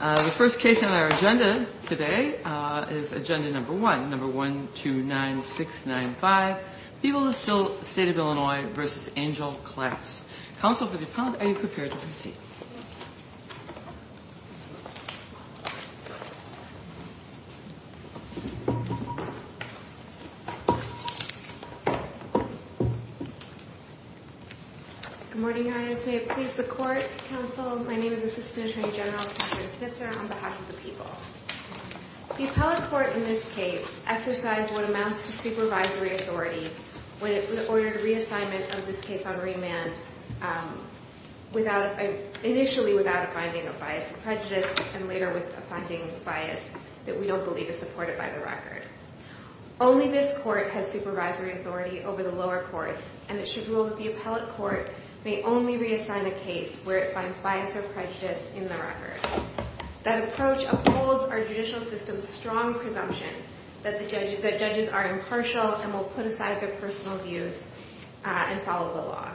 The first case on our agenda today is agenda number one, number 129695. People of the State of Illinois v. Angel Class. Counsel for the appellant, are you prepared to proceed? Good morning, Your Honor. Your Honor, may it please the Court, Counsel, my name is Assistant Attorney General Katherine Snitzer on behalf of the people. The appellate court in this case exercised what amounts to supervisory authority when it ordered reassignment of this case on remand initially without a finding of bias and prejudice and later with a finding of bias that we don't believe is supported by the record. Only this court has supervisory authority over the lower courts and it should rule that the appellate court may only reassign a case where it finds bias or prejudice in the record. That approach upholds our judicial system's strong presumption that judges are impartial and will put aside their personal views and follow the law.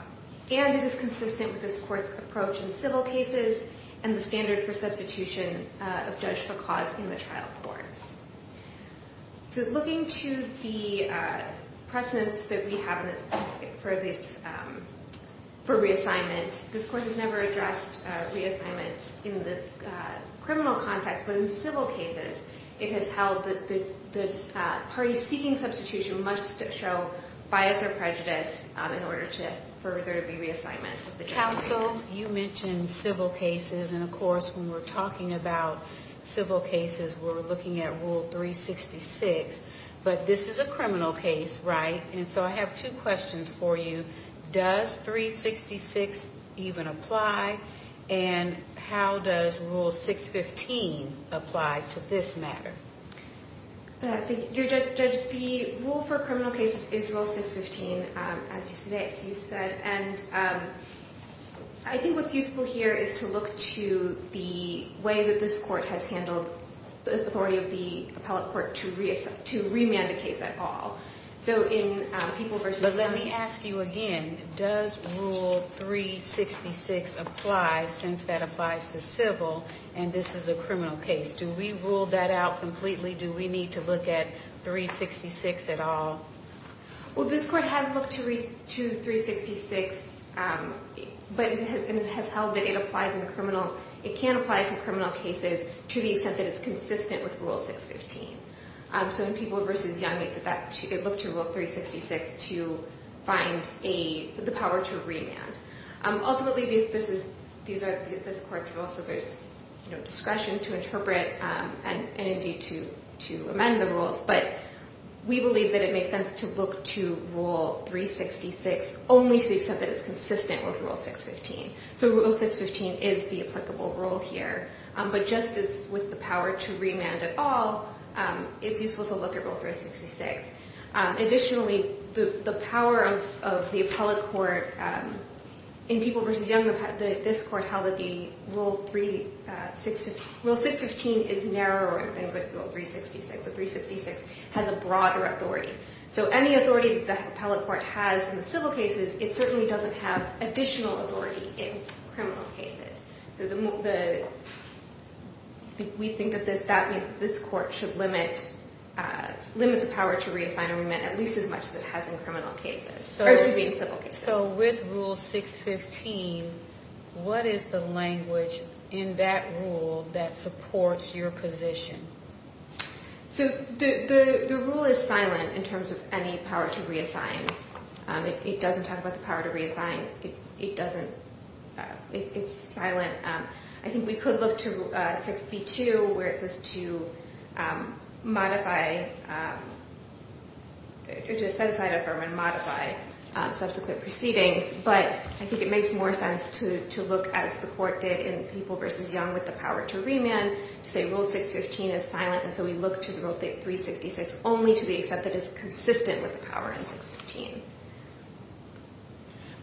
And it is consistent with this court's approach in civil cases and the standard for substitution of judge for cause in the trial courts. So looking to the precedence that we have for reassignment, this court has never addressed reassignment in the criminal context, but in civil cases it has held that the parties seeking substitution must show bias or prejudice in order to further the reassignment of the counsel. You mentioned civil cases and of course when we're talking about civil cases we're looking at Rule 366, but this is a criminal case, right? And so I have two questions for you. Does 366 even apply and how does Rule 615 apply to this matter? Your Judge, the rule for criminal cases is Rule 615, as you said, and I think what's useful here is to look to the way that this court has handled the authority of the appellate court to remand a case at all. So in people versus county. But let me ask you again, does Rule 366 apply since that applies to civil and this is a criminal case? Do we rule that out completely? Do we need to look at 366 at all? Well, this court has looked to 366, but it has held that it can apply to criminal cases to the extent that it's consistent with Rule 615. So in people versus young, it looked to Rule 366 to find the power to remand. Ultimately, these are this court's rules, so there's discretion to interpret and indeed to amend the rules, but we believe that it makes sense to look to Rule 366 only to the extent that it's consistent with Rule 615. So Rule 615 is the applicable rule here. But just as with the power to remand at all, it's useful to look at Rule 366. Additionally, the power of the appellate court in people versus young, this court held that Rule 615 is narrower than Rule 366. But 366 has a broader authority. So any authority that the appellate court has in civil cases, it certainly doesn't have additional authority in criminal cases. So we think that that means that this court should limit the power to reassign a remand at least as much as it has in civil cases. So with Rule 615, what is the language in that rule that supports your position? So the rule is silent in terms of any power to reassign. It doesn't talk about the power to reassign. It doesn't. It's silent. I think we could look to 6B2 where it says to modify or to set aside a firm and modify subsequent proceedings. But I think it makes more sense to look as the court did in people versus young with the power to remand to say Rule 615 is silent. And so we look to the Rule 366 only to the extent that it's consistent with the power in 615.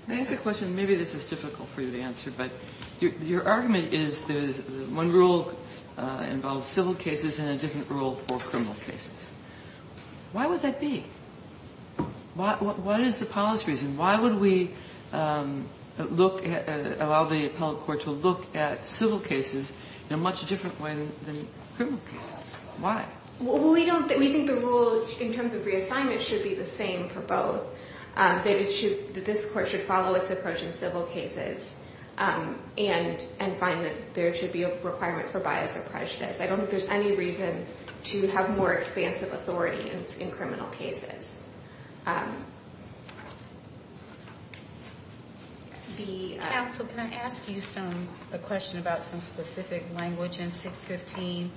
May I ask a question? Maybe this is difficult for you to answer, but your argument is one rule involves civil cases and a different rule for criminal cases. Why would that be? What is the policy reason? Why would we allow the appellate court to look at civil cases in a much different way than criminal cases? Why? We think the rule in terms of reassignment should be the same for both. That this court should follow its approach in civil cases and find that there should be a requirement for bias or prejudice. I don't think there's any reason to have more expansive authority in criminal cases. Counsel, can I ask you a question about some specific language in 615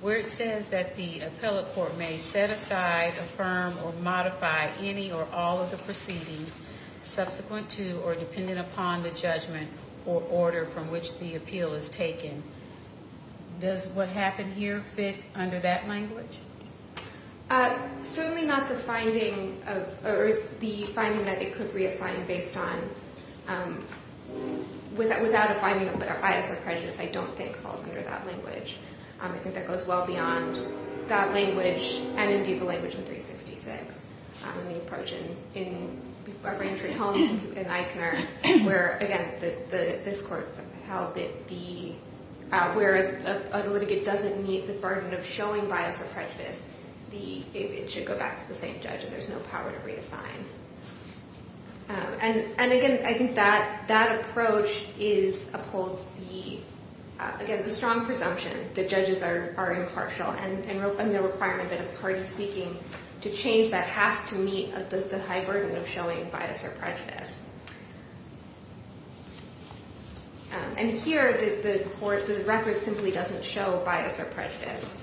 where it says that the appellate court may set aside, affirm, or modify any or all of the proceedings subsequent to or dependent upon the judgment or order from which the appeal is taken. Does what happened here fit under that language? Certainly not the finding that it could reassign based on, without a finding of bias or prejudice, I don't think falls under that language. I think that goes well beyond that language and, indeed, the language in 366. The approach in Reverend Treeholme and Eichner where, again, this court held that where a litigant doesn't meet the burden of showing bias or prejudice, it should go back to the same judge and there's no power to reassign. And, again, I think that approach upholds the, again, the strong presumption that judges are impartial and the requirement that a party seeking to change that has to meet the high burden of showing bias or prejudice. And here, the record simply doesn't show bias or prejudice.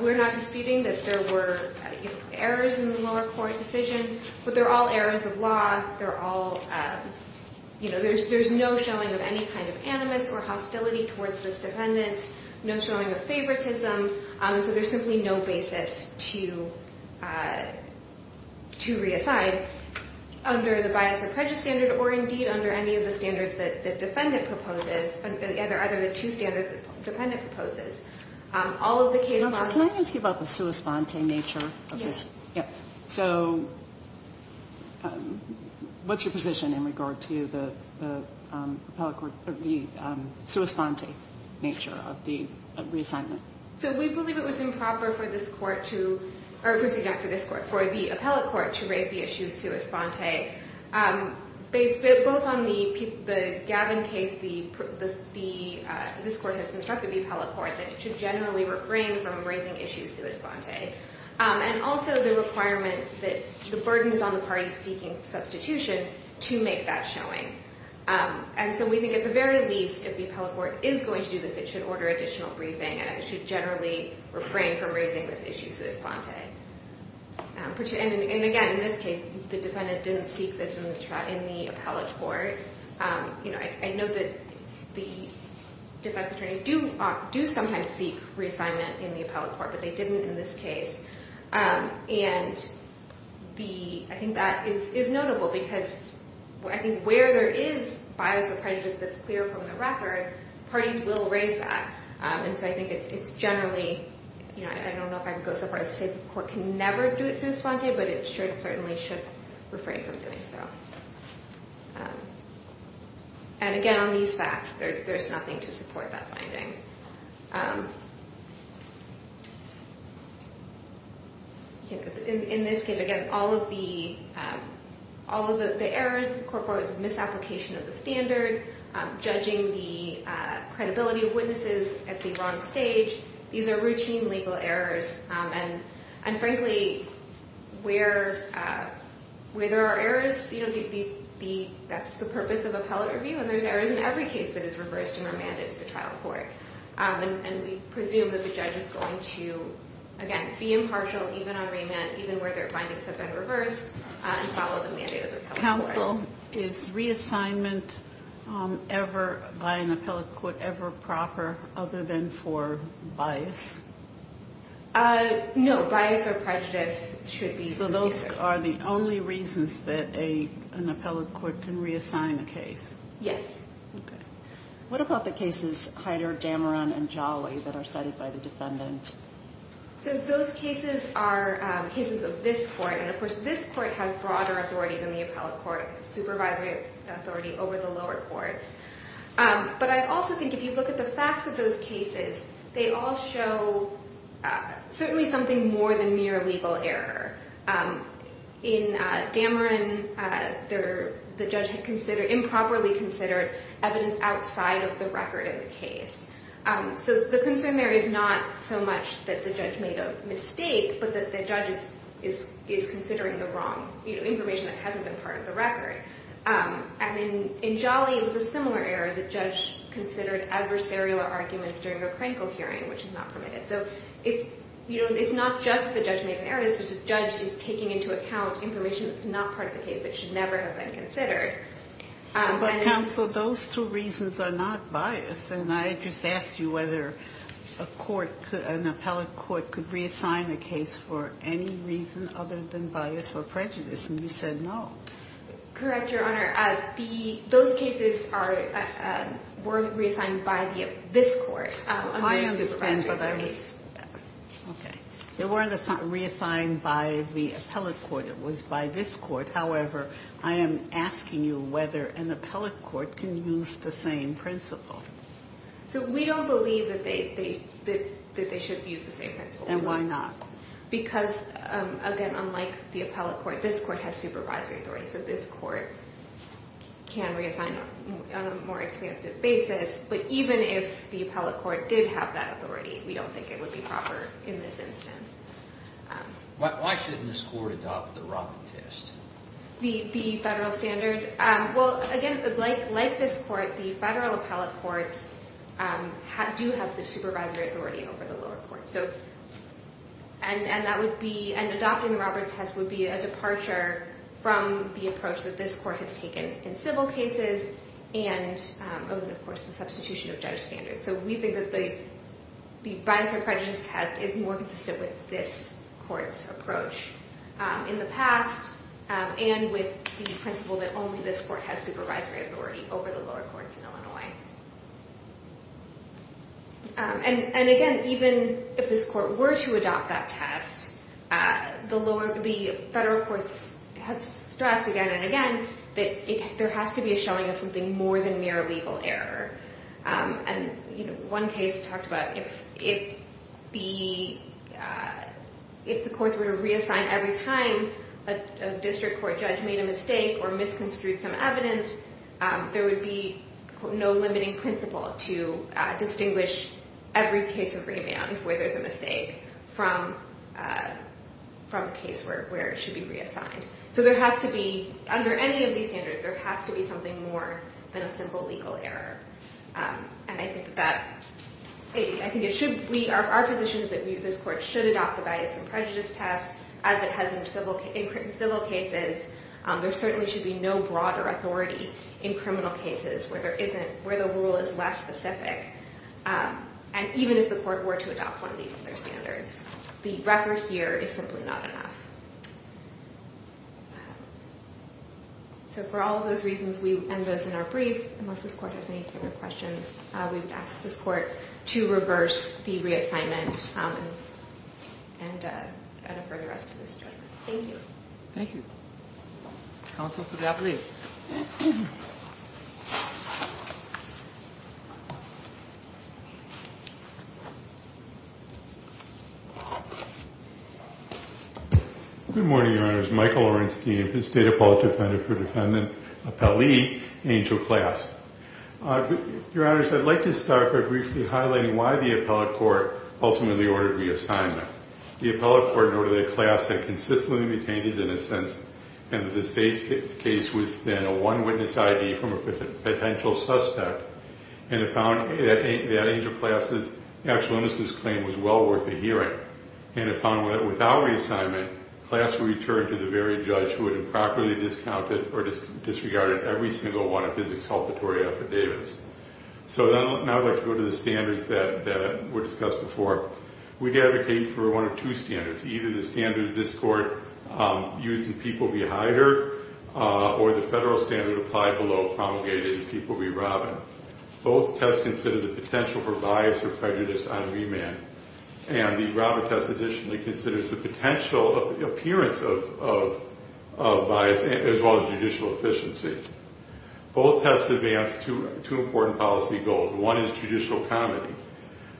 We're not disputing that there were errors in the lower court decision, but they're all errors of law. They're all, you know, there's no showing of any kind of animus or hostility towards this defendant. No showing of favoritism. So there's simply no basis to reassign under the bias or prejudice standard or, indeed, under any of the standards that the defendant proposes, either the two standards the defendant proposes. All of the case laws... Counsel, can I ask you about the sua sponte nature of this? Yes. Yeah. So what's your position in regard to the appellate court, the sua sponte nature of the reassignment? So we believe it was improper for this court to, or proceed after this court, for the appellate court to raise the issue sua sponte. Based both on the Gavin case, this court has instructed the appellate court that it should generally refrain from raising issues sua sponte. And also the requirement that the burden is on the parties seeking substitution to make that showing. And so we think at the very least, if the appellate court is going to do this, it should order additional briefing and it should generally refrain from raising this issue sua sponte. And, again, in this case, the defendant didn't seek this in the appellate court. You know, I know that the defense attorneys do sometimes seek reassignment in the appellate court, but they didn't in this case. And I think that is notable because I think where there is bias or prejudice that's clear from the record, parties will raise that. And so I think it's generally, you know, I don't know if I can go so far as to say the court can never do it sua sponte, but it certainly should refrain from doing so. And, again, on these facts, there's nothing to support that finding. In this case, again, all of the errors, the court provides a misapplication of the standard, judging the credibility of witnesses at the wrong stage, these are routine legal errors. And, frankly, where there are errors, you know, that's the purpose of appellate review, and there's errors in every case that is reversed and remanded to the trial court. And we presume that the judge is going to, again, be impartial even on remand, even where their findings have been reversed, and follow the mandate of the appellate court. Is reassignment ever, by an appellate court, ever proper other than for bias? No, bias or prejudice should be considered. So those are the only reasons that an appellate court can reassign a case? Yes. Okay. What about the cases Heider, Dameron, and Jolly that are cited by the defendant? So those cases are cases of this court. And, of course, this court has broader authority than the appellate court, supervisory authority over the lower courts. But I also think if you look at the facts of those cases, they all show certainly something more than mere legal error. In Dameron, the judge had improperly considered evidence outside of the record of the case. So the concern there is not so much that the judge made a mistake, but that the judge is considering the wrong information that hasn't been part of the record. And in Jolly, it was a similar error. The judge considered adversarial arguments during a Krankel hearing, which is not permitted. So it's not just the judge made an error. The judge is taking into account information that's not part of the case that should never have been considered. But, counsel, those two reasons are not biased. And I just asked you whether a court, an appellate court, could reassign a case for any reason other than bias or prejudice. And you said no. Correct, Your Honor. Those cases were reassigned by this court. I understand. Okay. They weren't reassigned by the appellate court. It was by this court. However, I am asking you whether an appellate court can use the same principle. So we don't believe that they should use the same principle. And why not? Because, again, unlike the appellate court, this court has supervisory authority. So this court can reassign on a more expansive basis. But even if the appellate court did have that authority, we don't think it would be proper in this instance. Why shouldn't this court adopt the Robert test? The federal standard? Well, again, like this court, the federal appellate courts do have the supervisory authority over the lower courts. And adopting the Robert test would be a departure from the approach that this court has taken in civil cases and, of course, the substitution of judge standards. So we think that the bias or prejudice test is more consistent with this court's approach in the past and with the principle that only this court has supervisory authority over the lower courts in Illinois. And, again, even if this court were to adopt that test, the federal courts have stressed again and again that there has to be a showing of something more than mere legal error. And one case talked about if the courts were to reassign every time a district court judge made a mistake or misconstrued some evidence, there would be no limiting principle to distinguish every case of remand where there's a mistake from a case where it should be reassigned. So there has to be, under any of these standards, there has to be something more than a simple legal error. And I think that our position is that this court should adopt the bias and prejudice test as it has in civil cases. There certainly should be no broader authority in criminal cases where the rule is less specific. And even if the court were to adopt one of these other standards, the refer here is simply not enough. So for all of those reasons and those in our brief, unless this court has any further questions, we would ask this court to reverse the reassignment and defer the rest of this judgment. Thank you. Thank you. Counsel for Gavreel. Good morning, Your Honors. Michael Orenstein, State Appellate Defendant for Defendant, Appellee, Angel Class. Your Honors, I'd like to start by briefly highlighting why the appellate court ultimately ordered reassignment. The appellate court noted that Class had consistently maintained his innocence and that the state's case was then a one-witness I.D. from a potential suspect. And it found that Angel Class' actual innocence claim was well worth a hearing. And it found that without reassignment, Class would return to the very judge who had improperly discounted or disregarded every single one of his exculpatory affidavits. So now I'd like to go to the standards that were discussed before. We'd advocate for one or two standards. Either the standards this court used in People v. Hyder or the federal standard applied below promulgated in People v. Robin. Both tests considered the potential for bias or prejudice on remand. And the Robin test additionally considers the potential appearance of bias as well as judicial efficiency. Both tests advanced two important policy goals. One is judicial comedy.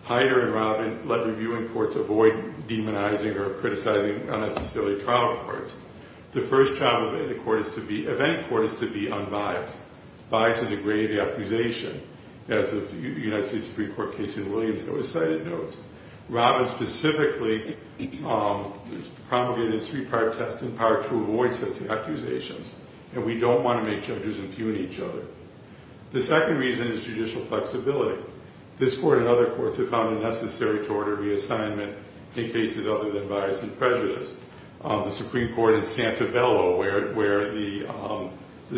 Hyder and Robin let reviewing courts avoid demonizing or criticizing unnecessarily trial courts. The first trial event court is to be unbiased. Bias is a grave accusation. As of the United States Supreme Court case in Williams that was cited notes. Robin specifically promulgated a three-part test in part to avoid such accusations. And we don't want to make judges impugn each other. The second reason is judicial flexibility. This court and other courts have found it necessary to order reassignment in cases other than bias and prejudice. The Supreme Court in Santabello where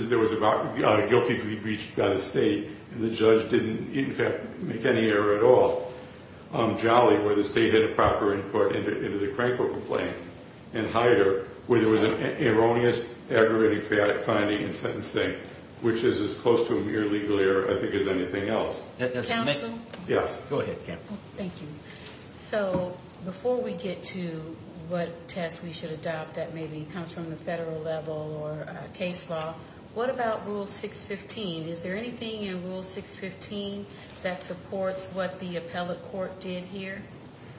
there was a guilty plea breached by the state and the judge didn't, in fact, make any error at all. Jolly, where the state had a proper input into the Crankville complaint. And Hyder, where there was an erroneous, aggravating, chaotic finding in sentencing which is as close to a mere legal error, I think, as anything else. Counsel? Yes. Go ahead, Kim. Thank you. So before we get to what test we should adopt that maybe comes from the federal level or case law, what about Rule 615? Is there anything in Rule 615 that supports what the appellate court did here?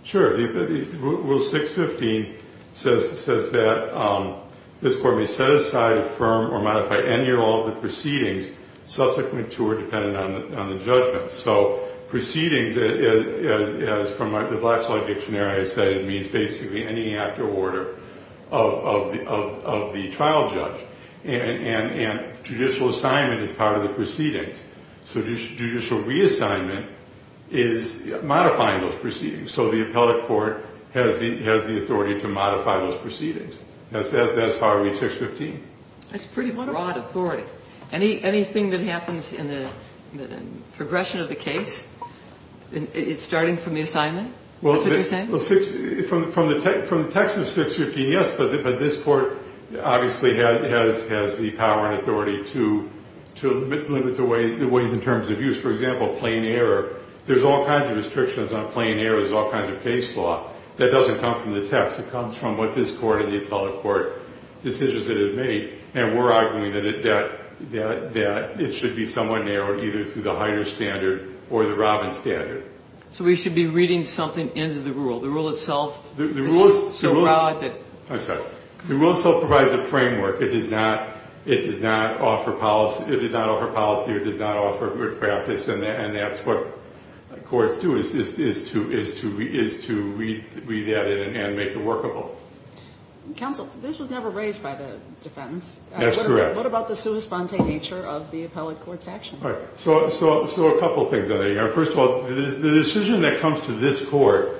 Sure. Rule 615 says that this court may set aside, affirm, or modify any or all of the proceedings subsequent to or dependent on the judgment. So proceedings, as from the Black's Law Dictionary I said, it means basically any act or order of the trial judge. And judicial assignment is part of the proceedings. So judicial reassignment is modifying those proceedings. So the appellate court has the authority to modify those proceedings. That's how we read 615. That's pretty broad authority. Anything that happens in the progression of the case, it's starting from the assignment? That's what you're saying? Well, from the text of 615, yes. But this Court obviously has the power and authority to limit the ways in terms of use. For example, plain error. There's all kinds of restrictions on plain error. There's all kinds of case law. That doesn't come from the text. It comes from what this Court and the appellate court decisions that it made. And we're arguing that it should be somewhat narrowed, either through the Heider standard or the Robbins standard. So we should be reading something into the rule? The rule itself? The rule itself provides a framework. It does not offer policy or does not offer good practice. And that's what courts do, is to read that in and make it workable. Counsel, this was never raised by the defendants. That's correct. What about the sui sponte nature of the appellate court's action? So a couple things. First of all, the decision that comes to this court,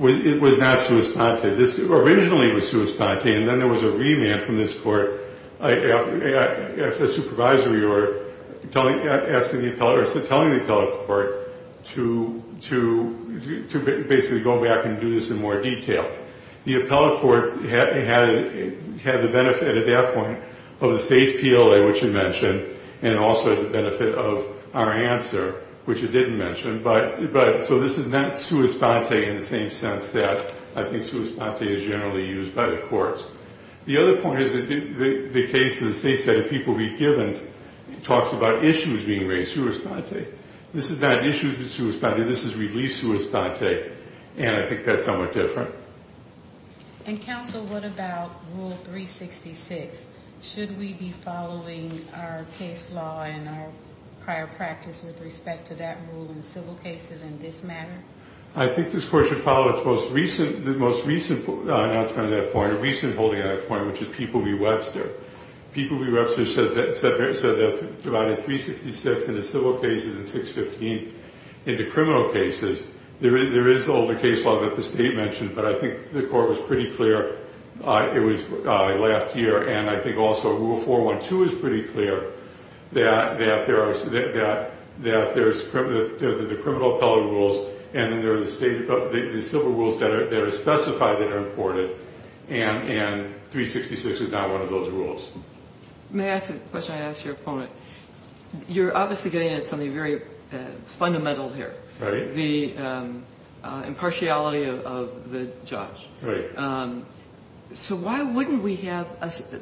it was not sui sponte. This originally was sui sponte, and then there was a remand from this court. The supervisory were telling the appellate court to basically go back and do this in more detail. The appellate court had the benefit at that point of the state's PLA, which it mentioned, and also the benefit of our answer, which it didn't mention. So this is not sui sponte in the same sense that I think sui sponte is generally used by the courts. The other point is the case in the state set of people we've given talks about issues being raised sui sponte. This is not issues sui sponte. This is relief sui sponte, and I think that's somewhat different. And, counsel, what about rule 366? Should we be following our case law and our prior practice with respect to that rule in civil cases in this matter? I think this court should follow its most recent announcement on that point, a recent holding on that point, which is People v. Webster. People v. Webster said they've divided 366 into civil cases and 615 into criminal cases. There is older case law that the state mentioned, but I think the court was pretty clear it was last year, and I think also Rule 412 is pretty clear that there's the criminal appellate rules and then there are the civil rules that are specified that are important, and 366 is not one of those rules. May I ask a question I asked your opponent? You're obviously getting at something very fundamental here. Right. The impartiality of the judge. Right. So why wouldn't we have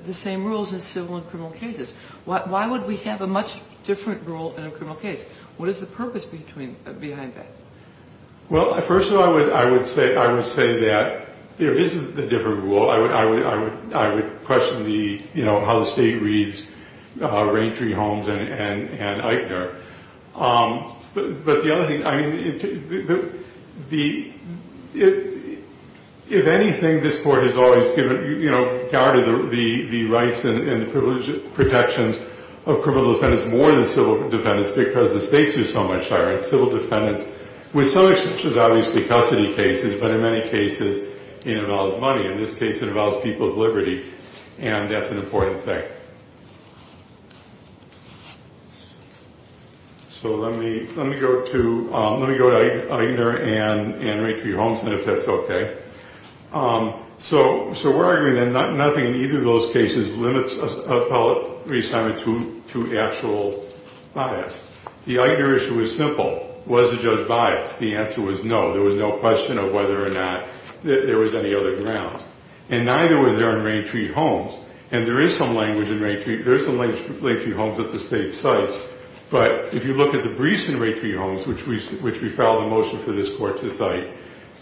the same rules in civil and criminal cases? Why would we have a much different rule in a criminal case? What is the purpose behind that? Well, first of all, I would say that there is a different rule. I would question the, you know, how the state reads Raintree, Holmes, and Eichner. But the other thing, I mean, if anything, this court has always given, you know, guarded the rights and the protections of criminal defendants more than civil defendants because the stakes are so much higher in civil defendants, with some exceptions, obviously, custody cases, but in many cases it involves money. In this case it involves people's liberty, and that's an important thing. So let me go to Eichner and Raintree, Holmes, and if that's okay. So we're arguing that nothing in either of those cases limits an appellate reassignment to actual bias. The Eichner issue is simple. Was the judge biased? The answer was no. There was no question of whether or not there was any other grounds. And neither was there in Raintree, Holmes. And there is some language in Raintree, there is some language in Raintree, Holmes that the state cites. But if you look at the briefs in Raintree, Holmes, which we filed a motion for this court to cite,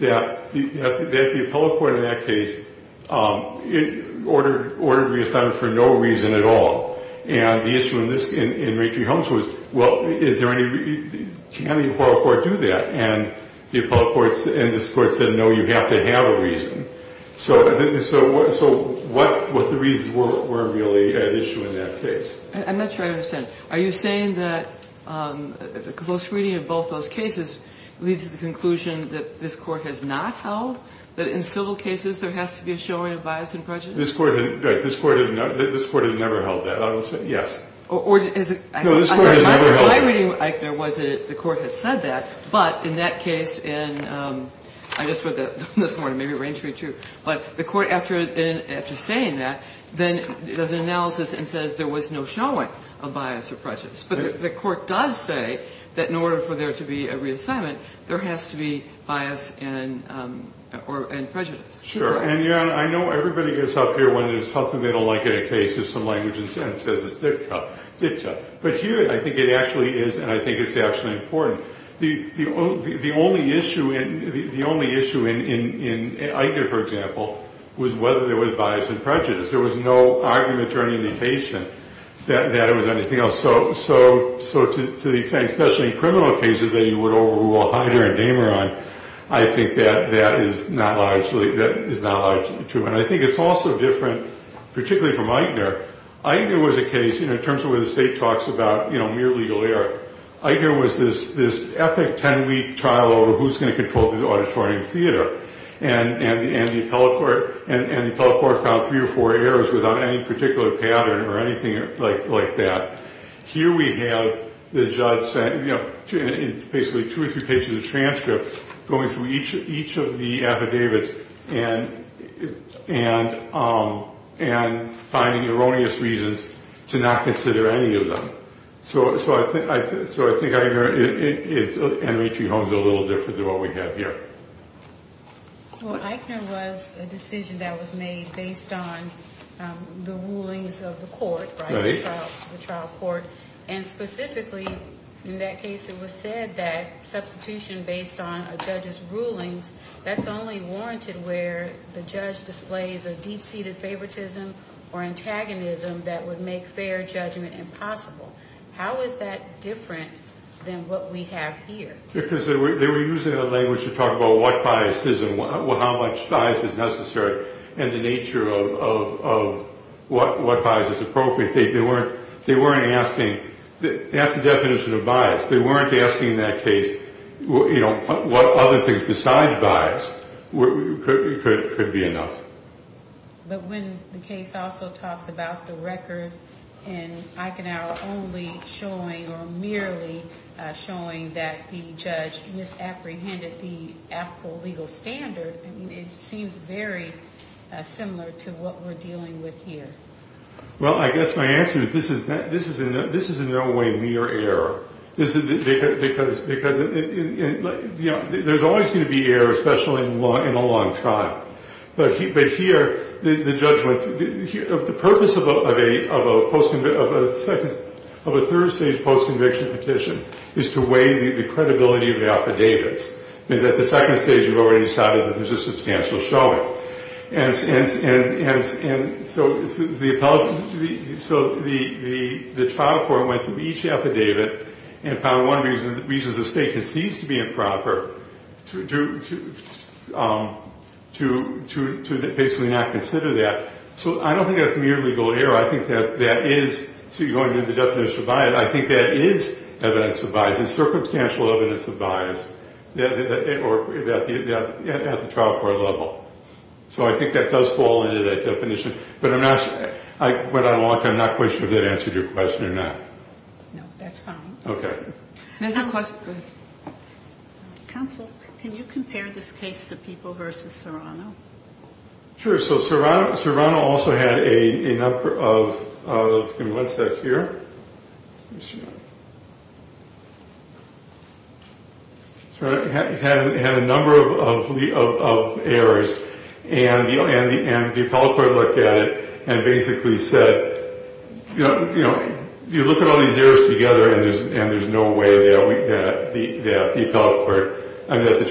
that the appellate court in that case ordered reassignment for no reason at all. And the issue in Raintree, Holmes was, well, is there any, can the appellate court do that? And the appellate court, and this court said, no, you have to have a reason. So what the reasons were really at issue in that case. I'm not sure I understand. Are you saying that a close reading of both those cases leads to the conclusion that this court has not held, that in civil cases there has to be a showing of bias and prejudice? This court has never held that, I would say, yes. No, this court has never held that. My reading, Eichner, was that the court had said that. But in that case in, I just read that this morning, maybe Raintree, too. But the court, after saying that, then does an analysis and says there was no showing of bias or prejudice. But the court does say that in order for there to be a reassignment, there has to be bias and prejudice. Sure. And, yeah, I know everybody gets up here when there's something they don't like in a case, just some language and sentence that says it's dicta. But here I think it actually is, and I think it's actually important. The only issue in Eichner, for example, was whether there was bias and prejudice. There was no argument or indication that it was anything else. So to the extent, especially in criminal cases, that you would overrule Heider and Dameron, I think that is not largely true. And I think it's also different, particularly from Eichner. Eichner was a case, in terms of where the state talks about mere legal error, Eichner was this epic 10-week trial over who's going to control the auditorium theater. And the appellate court found three or four errors without any particular pattern or anything like that. Here we have the judge basically two or three pages of transcript going through each of the affidavits. And finding erroneous reasons to not consider any of them. So I think Eichner is a little different than what we have here. Well, Eichner was a decision that was made based on the rulings of the court, the trial court. And specifically in that case it was said that substitution based on a judge's rulings, that's only warranted where the judge displays a deep-seated favoritism or antagonism that would make fair judgment impossible. How is that different than what we have here? Because they were using the language to talk about what bias is and how much bias is necessary. And the nature of what bias is appropriate. They weren't asking, that's the definition of bias. They weren't asking that case, you know, what other things besides bias could be enough. But when the case also talks about the record and Eichner only showing or merely showing that the judge misapprehended the applicable legal standard, it seems very similar to what we're dealing with here. Well, I guess my answer is this is in no way mere error. Because there's always going to be error, especially in a long trial. But here the purpose of a third-stage post-conviction petition is to weigh the credibility of the affidavits. At the second stage you've already decided that there's a substantial showing. And so the trial court went through each affidavit and found one reason the state concedes to be improper to basically not consider that. So I don't think that's mere legal error. I think that is, so you go into the definition of bias, I think that is evidence of bias. Circumstantial evidence of bias at the trial court level. So I think that does fall into that definition. But I'm not sure, but I'm not quite sure if that answered your question or not. No, that's fine. Okay. Another question. Counsel, can you compare this case to People v. Serrano? Sure. So Serrano also had a number of errors. And the appellate court looked at it and basically said, you know, you look at all these errors together and there's no way that the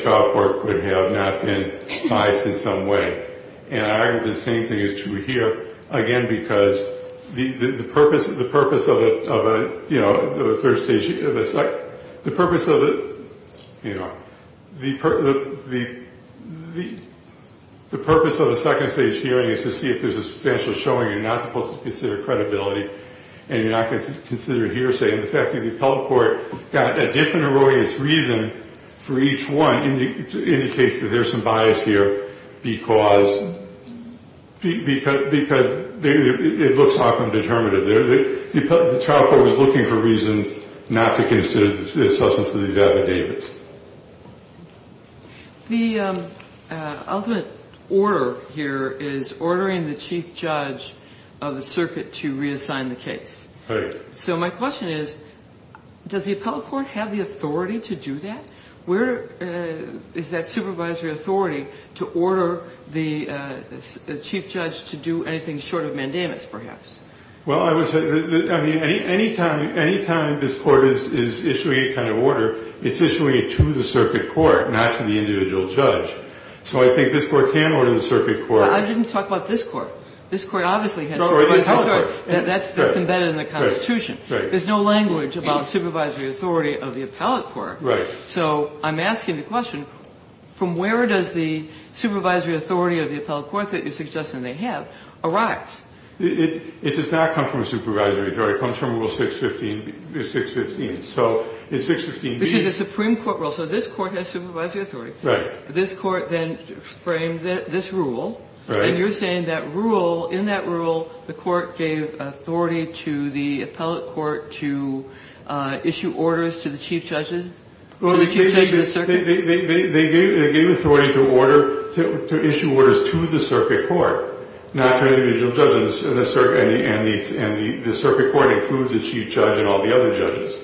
trial court could have not been biased in some way. And I think the same thing is true here, again, because the purpose of a third stage hearing is to see if there's a substantial showing you're not supposed to consider credibility and you're not going to consider hearsay. And the fact that the appellate court got a different erroneous reason for each one indicates that there's some bias here because it looks often determinative. The trial court was looking for reasons not to consider the substance of these avid David's. The ultimate order here is ordering the chief judge of the circuit to reassign the case. Right. So my question is, does the appellate court have the authority to do that? Where is that supervisory authority to order the chief judge to do anything short of mandamus, perhaps? Well, I mean, any time this court is issuing a kind of order, it's issuing it to the circuit court, not to the individual judge. So I think this court can order the circuit court. I didn't talk about this court. This court obviously has supervisory authority. That's embedded in the Constitution. There's no language about supervisory authority of the appellate court. Right. So I'm asking the question, from where does the supervisory authority of the appellate court that you're suggesting they have arise? It does not come from a supervisory authority. It comes from Rule 615, 615. So in 615b. This is a Supreme Court rule. So this court has supervisory authority. Right. This court then framed this rule. Right. And you're saying that rule, in that rule, the court gave authority to the appellate court to issue orders to the chief judges? Well, they gave authority to issue orders to the circuit court, not to the individual judge. And the circuit court includes the chief judge and all the other judges.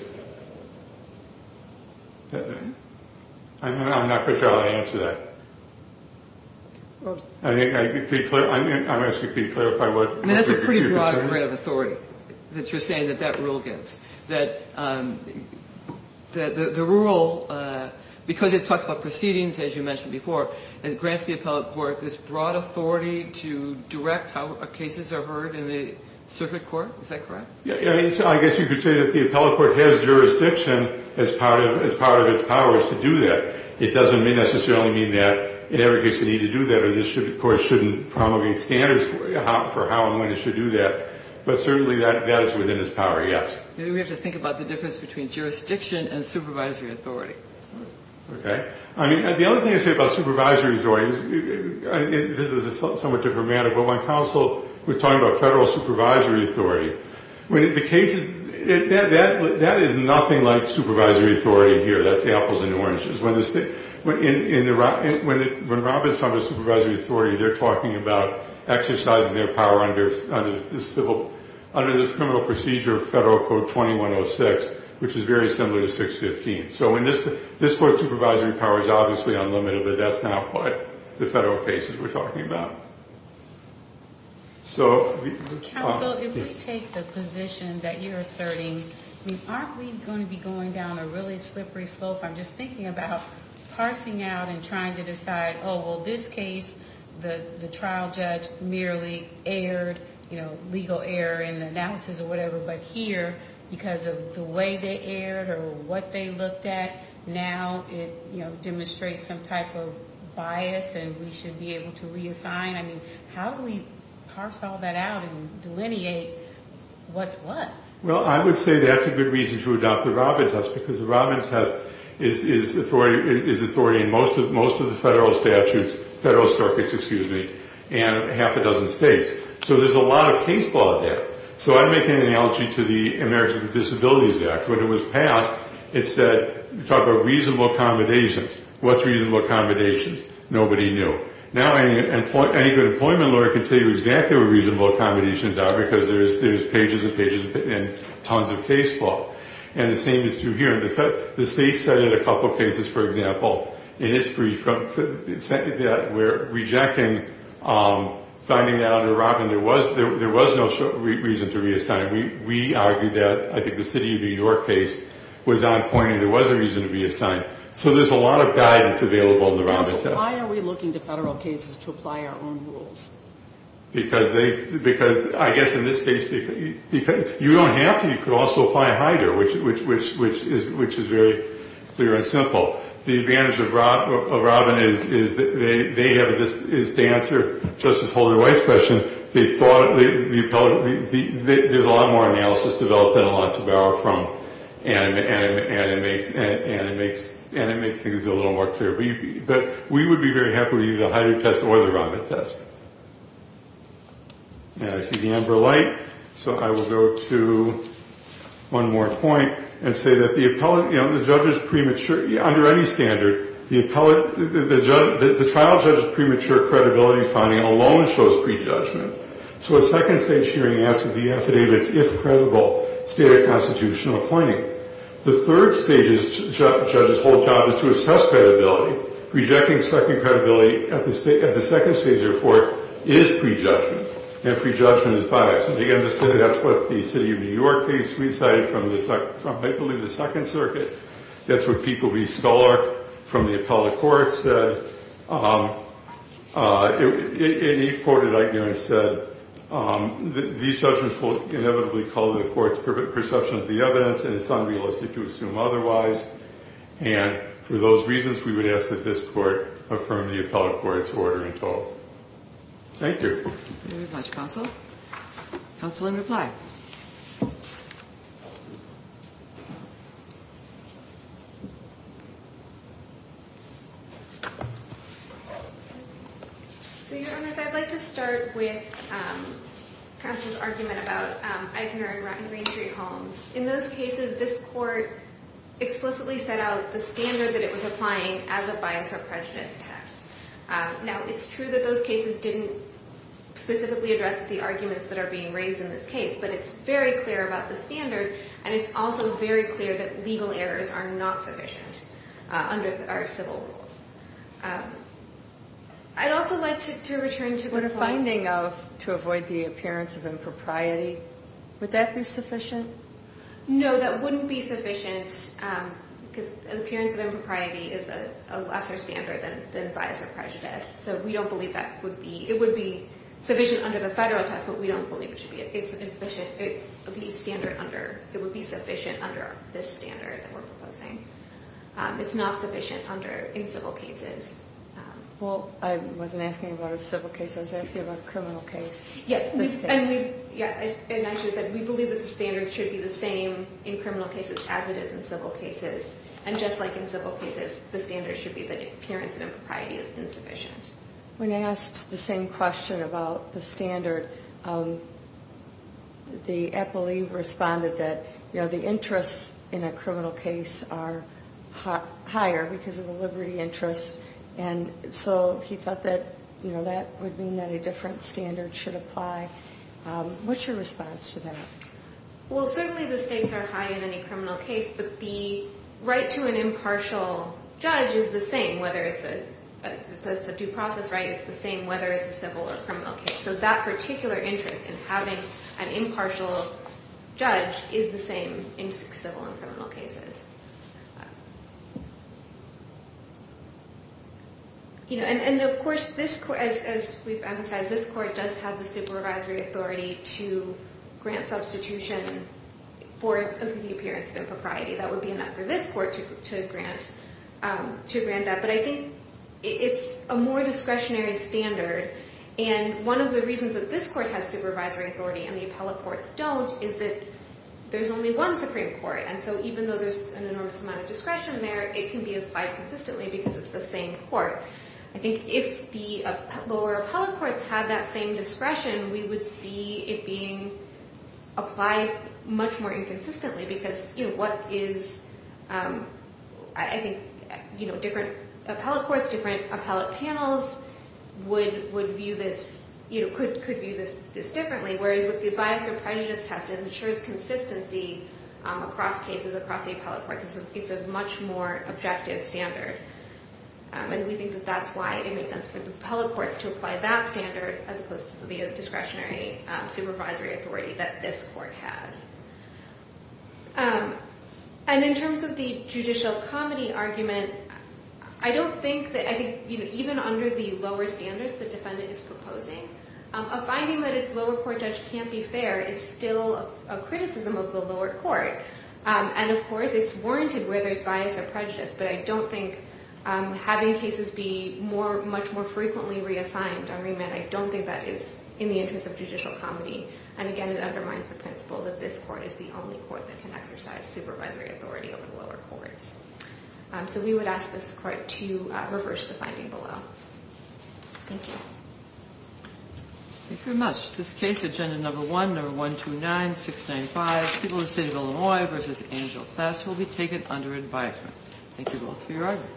I'm not quite sure how to answer that. I'm asking for you to clarify what you're saying. I mean, that's a pretty broad grant of authority that you're saying that that rule gives. That the rule, because it talks about proceedings, as you mentioned before, it grants the appellate court this broad authority to direct how cases are heard in the circuit court. Is that correct? I guess you could say that the appellate court has jurisdiction as part of its powers to do that. It doesn't necessarily mean that it ever gets the need to do that, or this court shouldn't promulgate standards for how and when it should do that. But certainly that is within its power, yes. Maybe we have to think about the difference between jurisdiction and supervisory authority. Okay. I mean, the other thing I'd say about supervisory authority, and this is a somewhat different matter, but when counsel was talking about federal supervisory authority, that is nothing like supervisory authority here. That's apples and oranges. When Robert's talking about supervisory authority, they're talking about exercising their power under the criminal procedure of Federal Code 2106, which is very similar to 615. So this court's supervisory power is obviously unlimited, but that's not what the federal cases we're talking about. Counsel, if we take the position that you're asserting, aren't we going to be going down a really slippery slope? I'm just thinking about parsing out and trying to decide, oh, well, this case the trial judge merely aired legal error in the analysis or whatever, but here, because of the way they aired or what they looked at, now it demonstrates some type of bias and we should be able to reassign. I mean, how do we parse all that out and delineate what's what? Well, I would say that's a good reason to adopt the Robin test because the Robin test is authority in most of the federal statutes, federal circuits, excuse me, and half a dozen states. So there's a lot of case law there. So I'd make an analogy to the Americans with Disabilities Act. When it was passed, it said, we talked about reasonable accommodations. What's reasonable accommodations? Nobody knew. Now any good employment lawyer can tell you exactly what reasonable accommodations are because there's pages and pages and tons of case law. And the same is true here. The states cited a couple of cases, for example, in history, that were rejecting finding out a Robin. There was no reason to reassign. We argued that. I think the city of New York case was on point and there was a reason to reassign. So there's a lot of guidance available in the Robin test. So why are we looking to federal cases to apply our own rules? Because I guess in this case, you don't have to. You could also apply a HIDR, which is very clear and simple. The advantage of Robin is they have this to answer Justice Holder White's question. There's a lot more analysis developed than a lot to borrow from, and it makes things a little more clear. But we would be very happy to use the HIDR test or the Robin test. And I see the amber light, so I will go to one more point and say that the judge's premature under any standard, the trial judge's premature credibility finding alone shows prejudgment. So a second-stage hearing asks if the affidavit is credible, state a constitutional appointing. The third stage, the judge's whole job is to assess credibility. Rejecting second credibility at the second stage of the report is prejudgment, and prejudgment is biased. And again, that's what the city of New York case recited from, I believe, the Second Circuit. That's what Pete Goldbee, scholar from the appellate court, said. And he quoted, I guess, said, These judgments will inevitably call to the court's perception of the evidence, and it's unrealistic to assume otherwise. And for those reasons, we would ask that this court affirm the appellate court's order in total. Thank you. Thank you very much, counsel. Counsel in reply. So, Your Honors, I'd like to start with counsel's argument about ignoring rotten green tree homes. In those cases, this court explicitly set out the standard that it was applying as a bias or prejudice test. Now, it's true that those cases didn't specifically address the arguments that are being raised in this case, but it's very clear about the standard, and it's also very clear that legal errors are not sufficient under our civil rules. I'd also like to return to the point of finding of, to avoid the appearance of impropriety. Would that be sufficient? No, that wouldn't be sufficient because appearance of impropriety is a lesser standard than bias or prejudice. So we don't believe that it would be sufficient under the federal test, but we don't believe it should be. It would be sufficient under this standard that we're proposing. It's not sufficient in civil cases. Well, I wasn't asking about a civil case. I was asking about a criminal case. Yes, and we believe that the standard should be the same in criminal cases as it is in civil cases, and just like in civil cases, the standard should be that appearance of impropriety is insufficient. When I asked the same question about the standard, the appellee responded that, you know, the interests in a criminal case are higher because of the liberty interest, and so he thought that, you know, that would mean that a different standard should apply. What's your response to that? Well, certainly the stakes are high in any criminal case, but the right to an impartial judge is the same whether it's a due process right. It's the same whether it's a civil or criminal case. So that particular interest in having an impartial judge is the same in civil and criminal cases. And, of course, as we've emphasized, this court does have the supervisory authority to grant substitution for the appearance of impropriety. That would be enough for this court to grant that, but I think it's a more discretionary standard, and one of the reasons that this court has supervisory authority and the appellate courts don't is that there's only one Supreme Court, and so even though there's an enormous amount of discretion there, it can be applied consistently because it's the same court. I think if the lower appellate courts had that same discretion, we would see it being applied much more inconsistently because, you know, what is, I think, you know, different appellate courts, different appellate panels would view this, you know, could view this differently, whereas with the bias or prejudice test, it ensures consistency across cases, across the appellate courts. It's a much more objective standard, and we think that that's why it makes sense for the appellate courts to apply that standard as opposed to the discretionary supervisory authority that this court has. And in terms of the judicial comedy argument, I don't think that I think, you know, even under the lower standards the defendant is proposing, a finding that a lower court judge can't be fair is still a criticism of the lower court, and, of course, it's warranted where there's bias or prejudice, but I don't think having cases be more, much more frequently reassigned, I mean, I don't think that is in the interest of judicial comedy, and, again, it undermines the principle that this court is the only court that can exercise supervisory authority over the lower courts. So we would ask this court to reverse the finding below. Thank you. Thank you very much. This case, Agenda Number 1, Number 129, 695, People in the State of Illinois v. Angel Class, will be taken under advisement. Thank you both for your argument.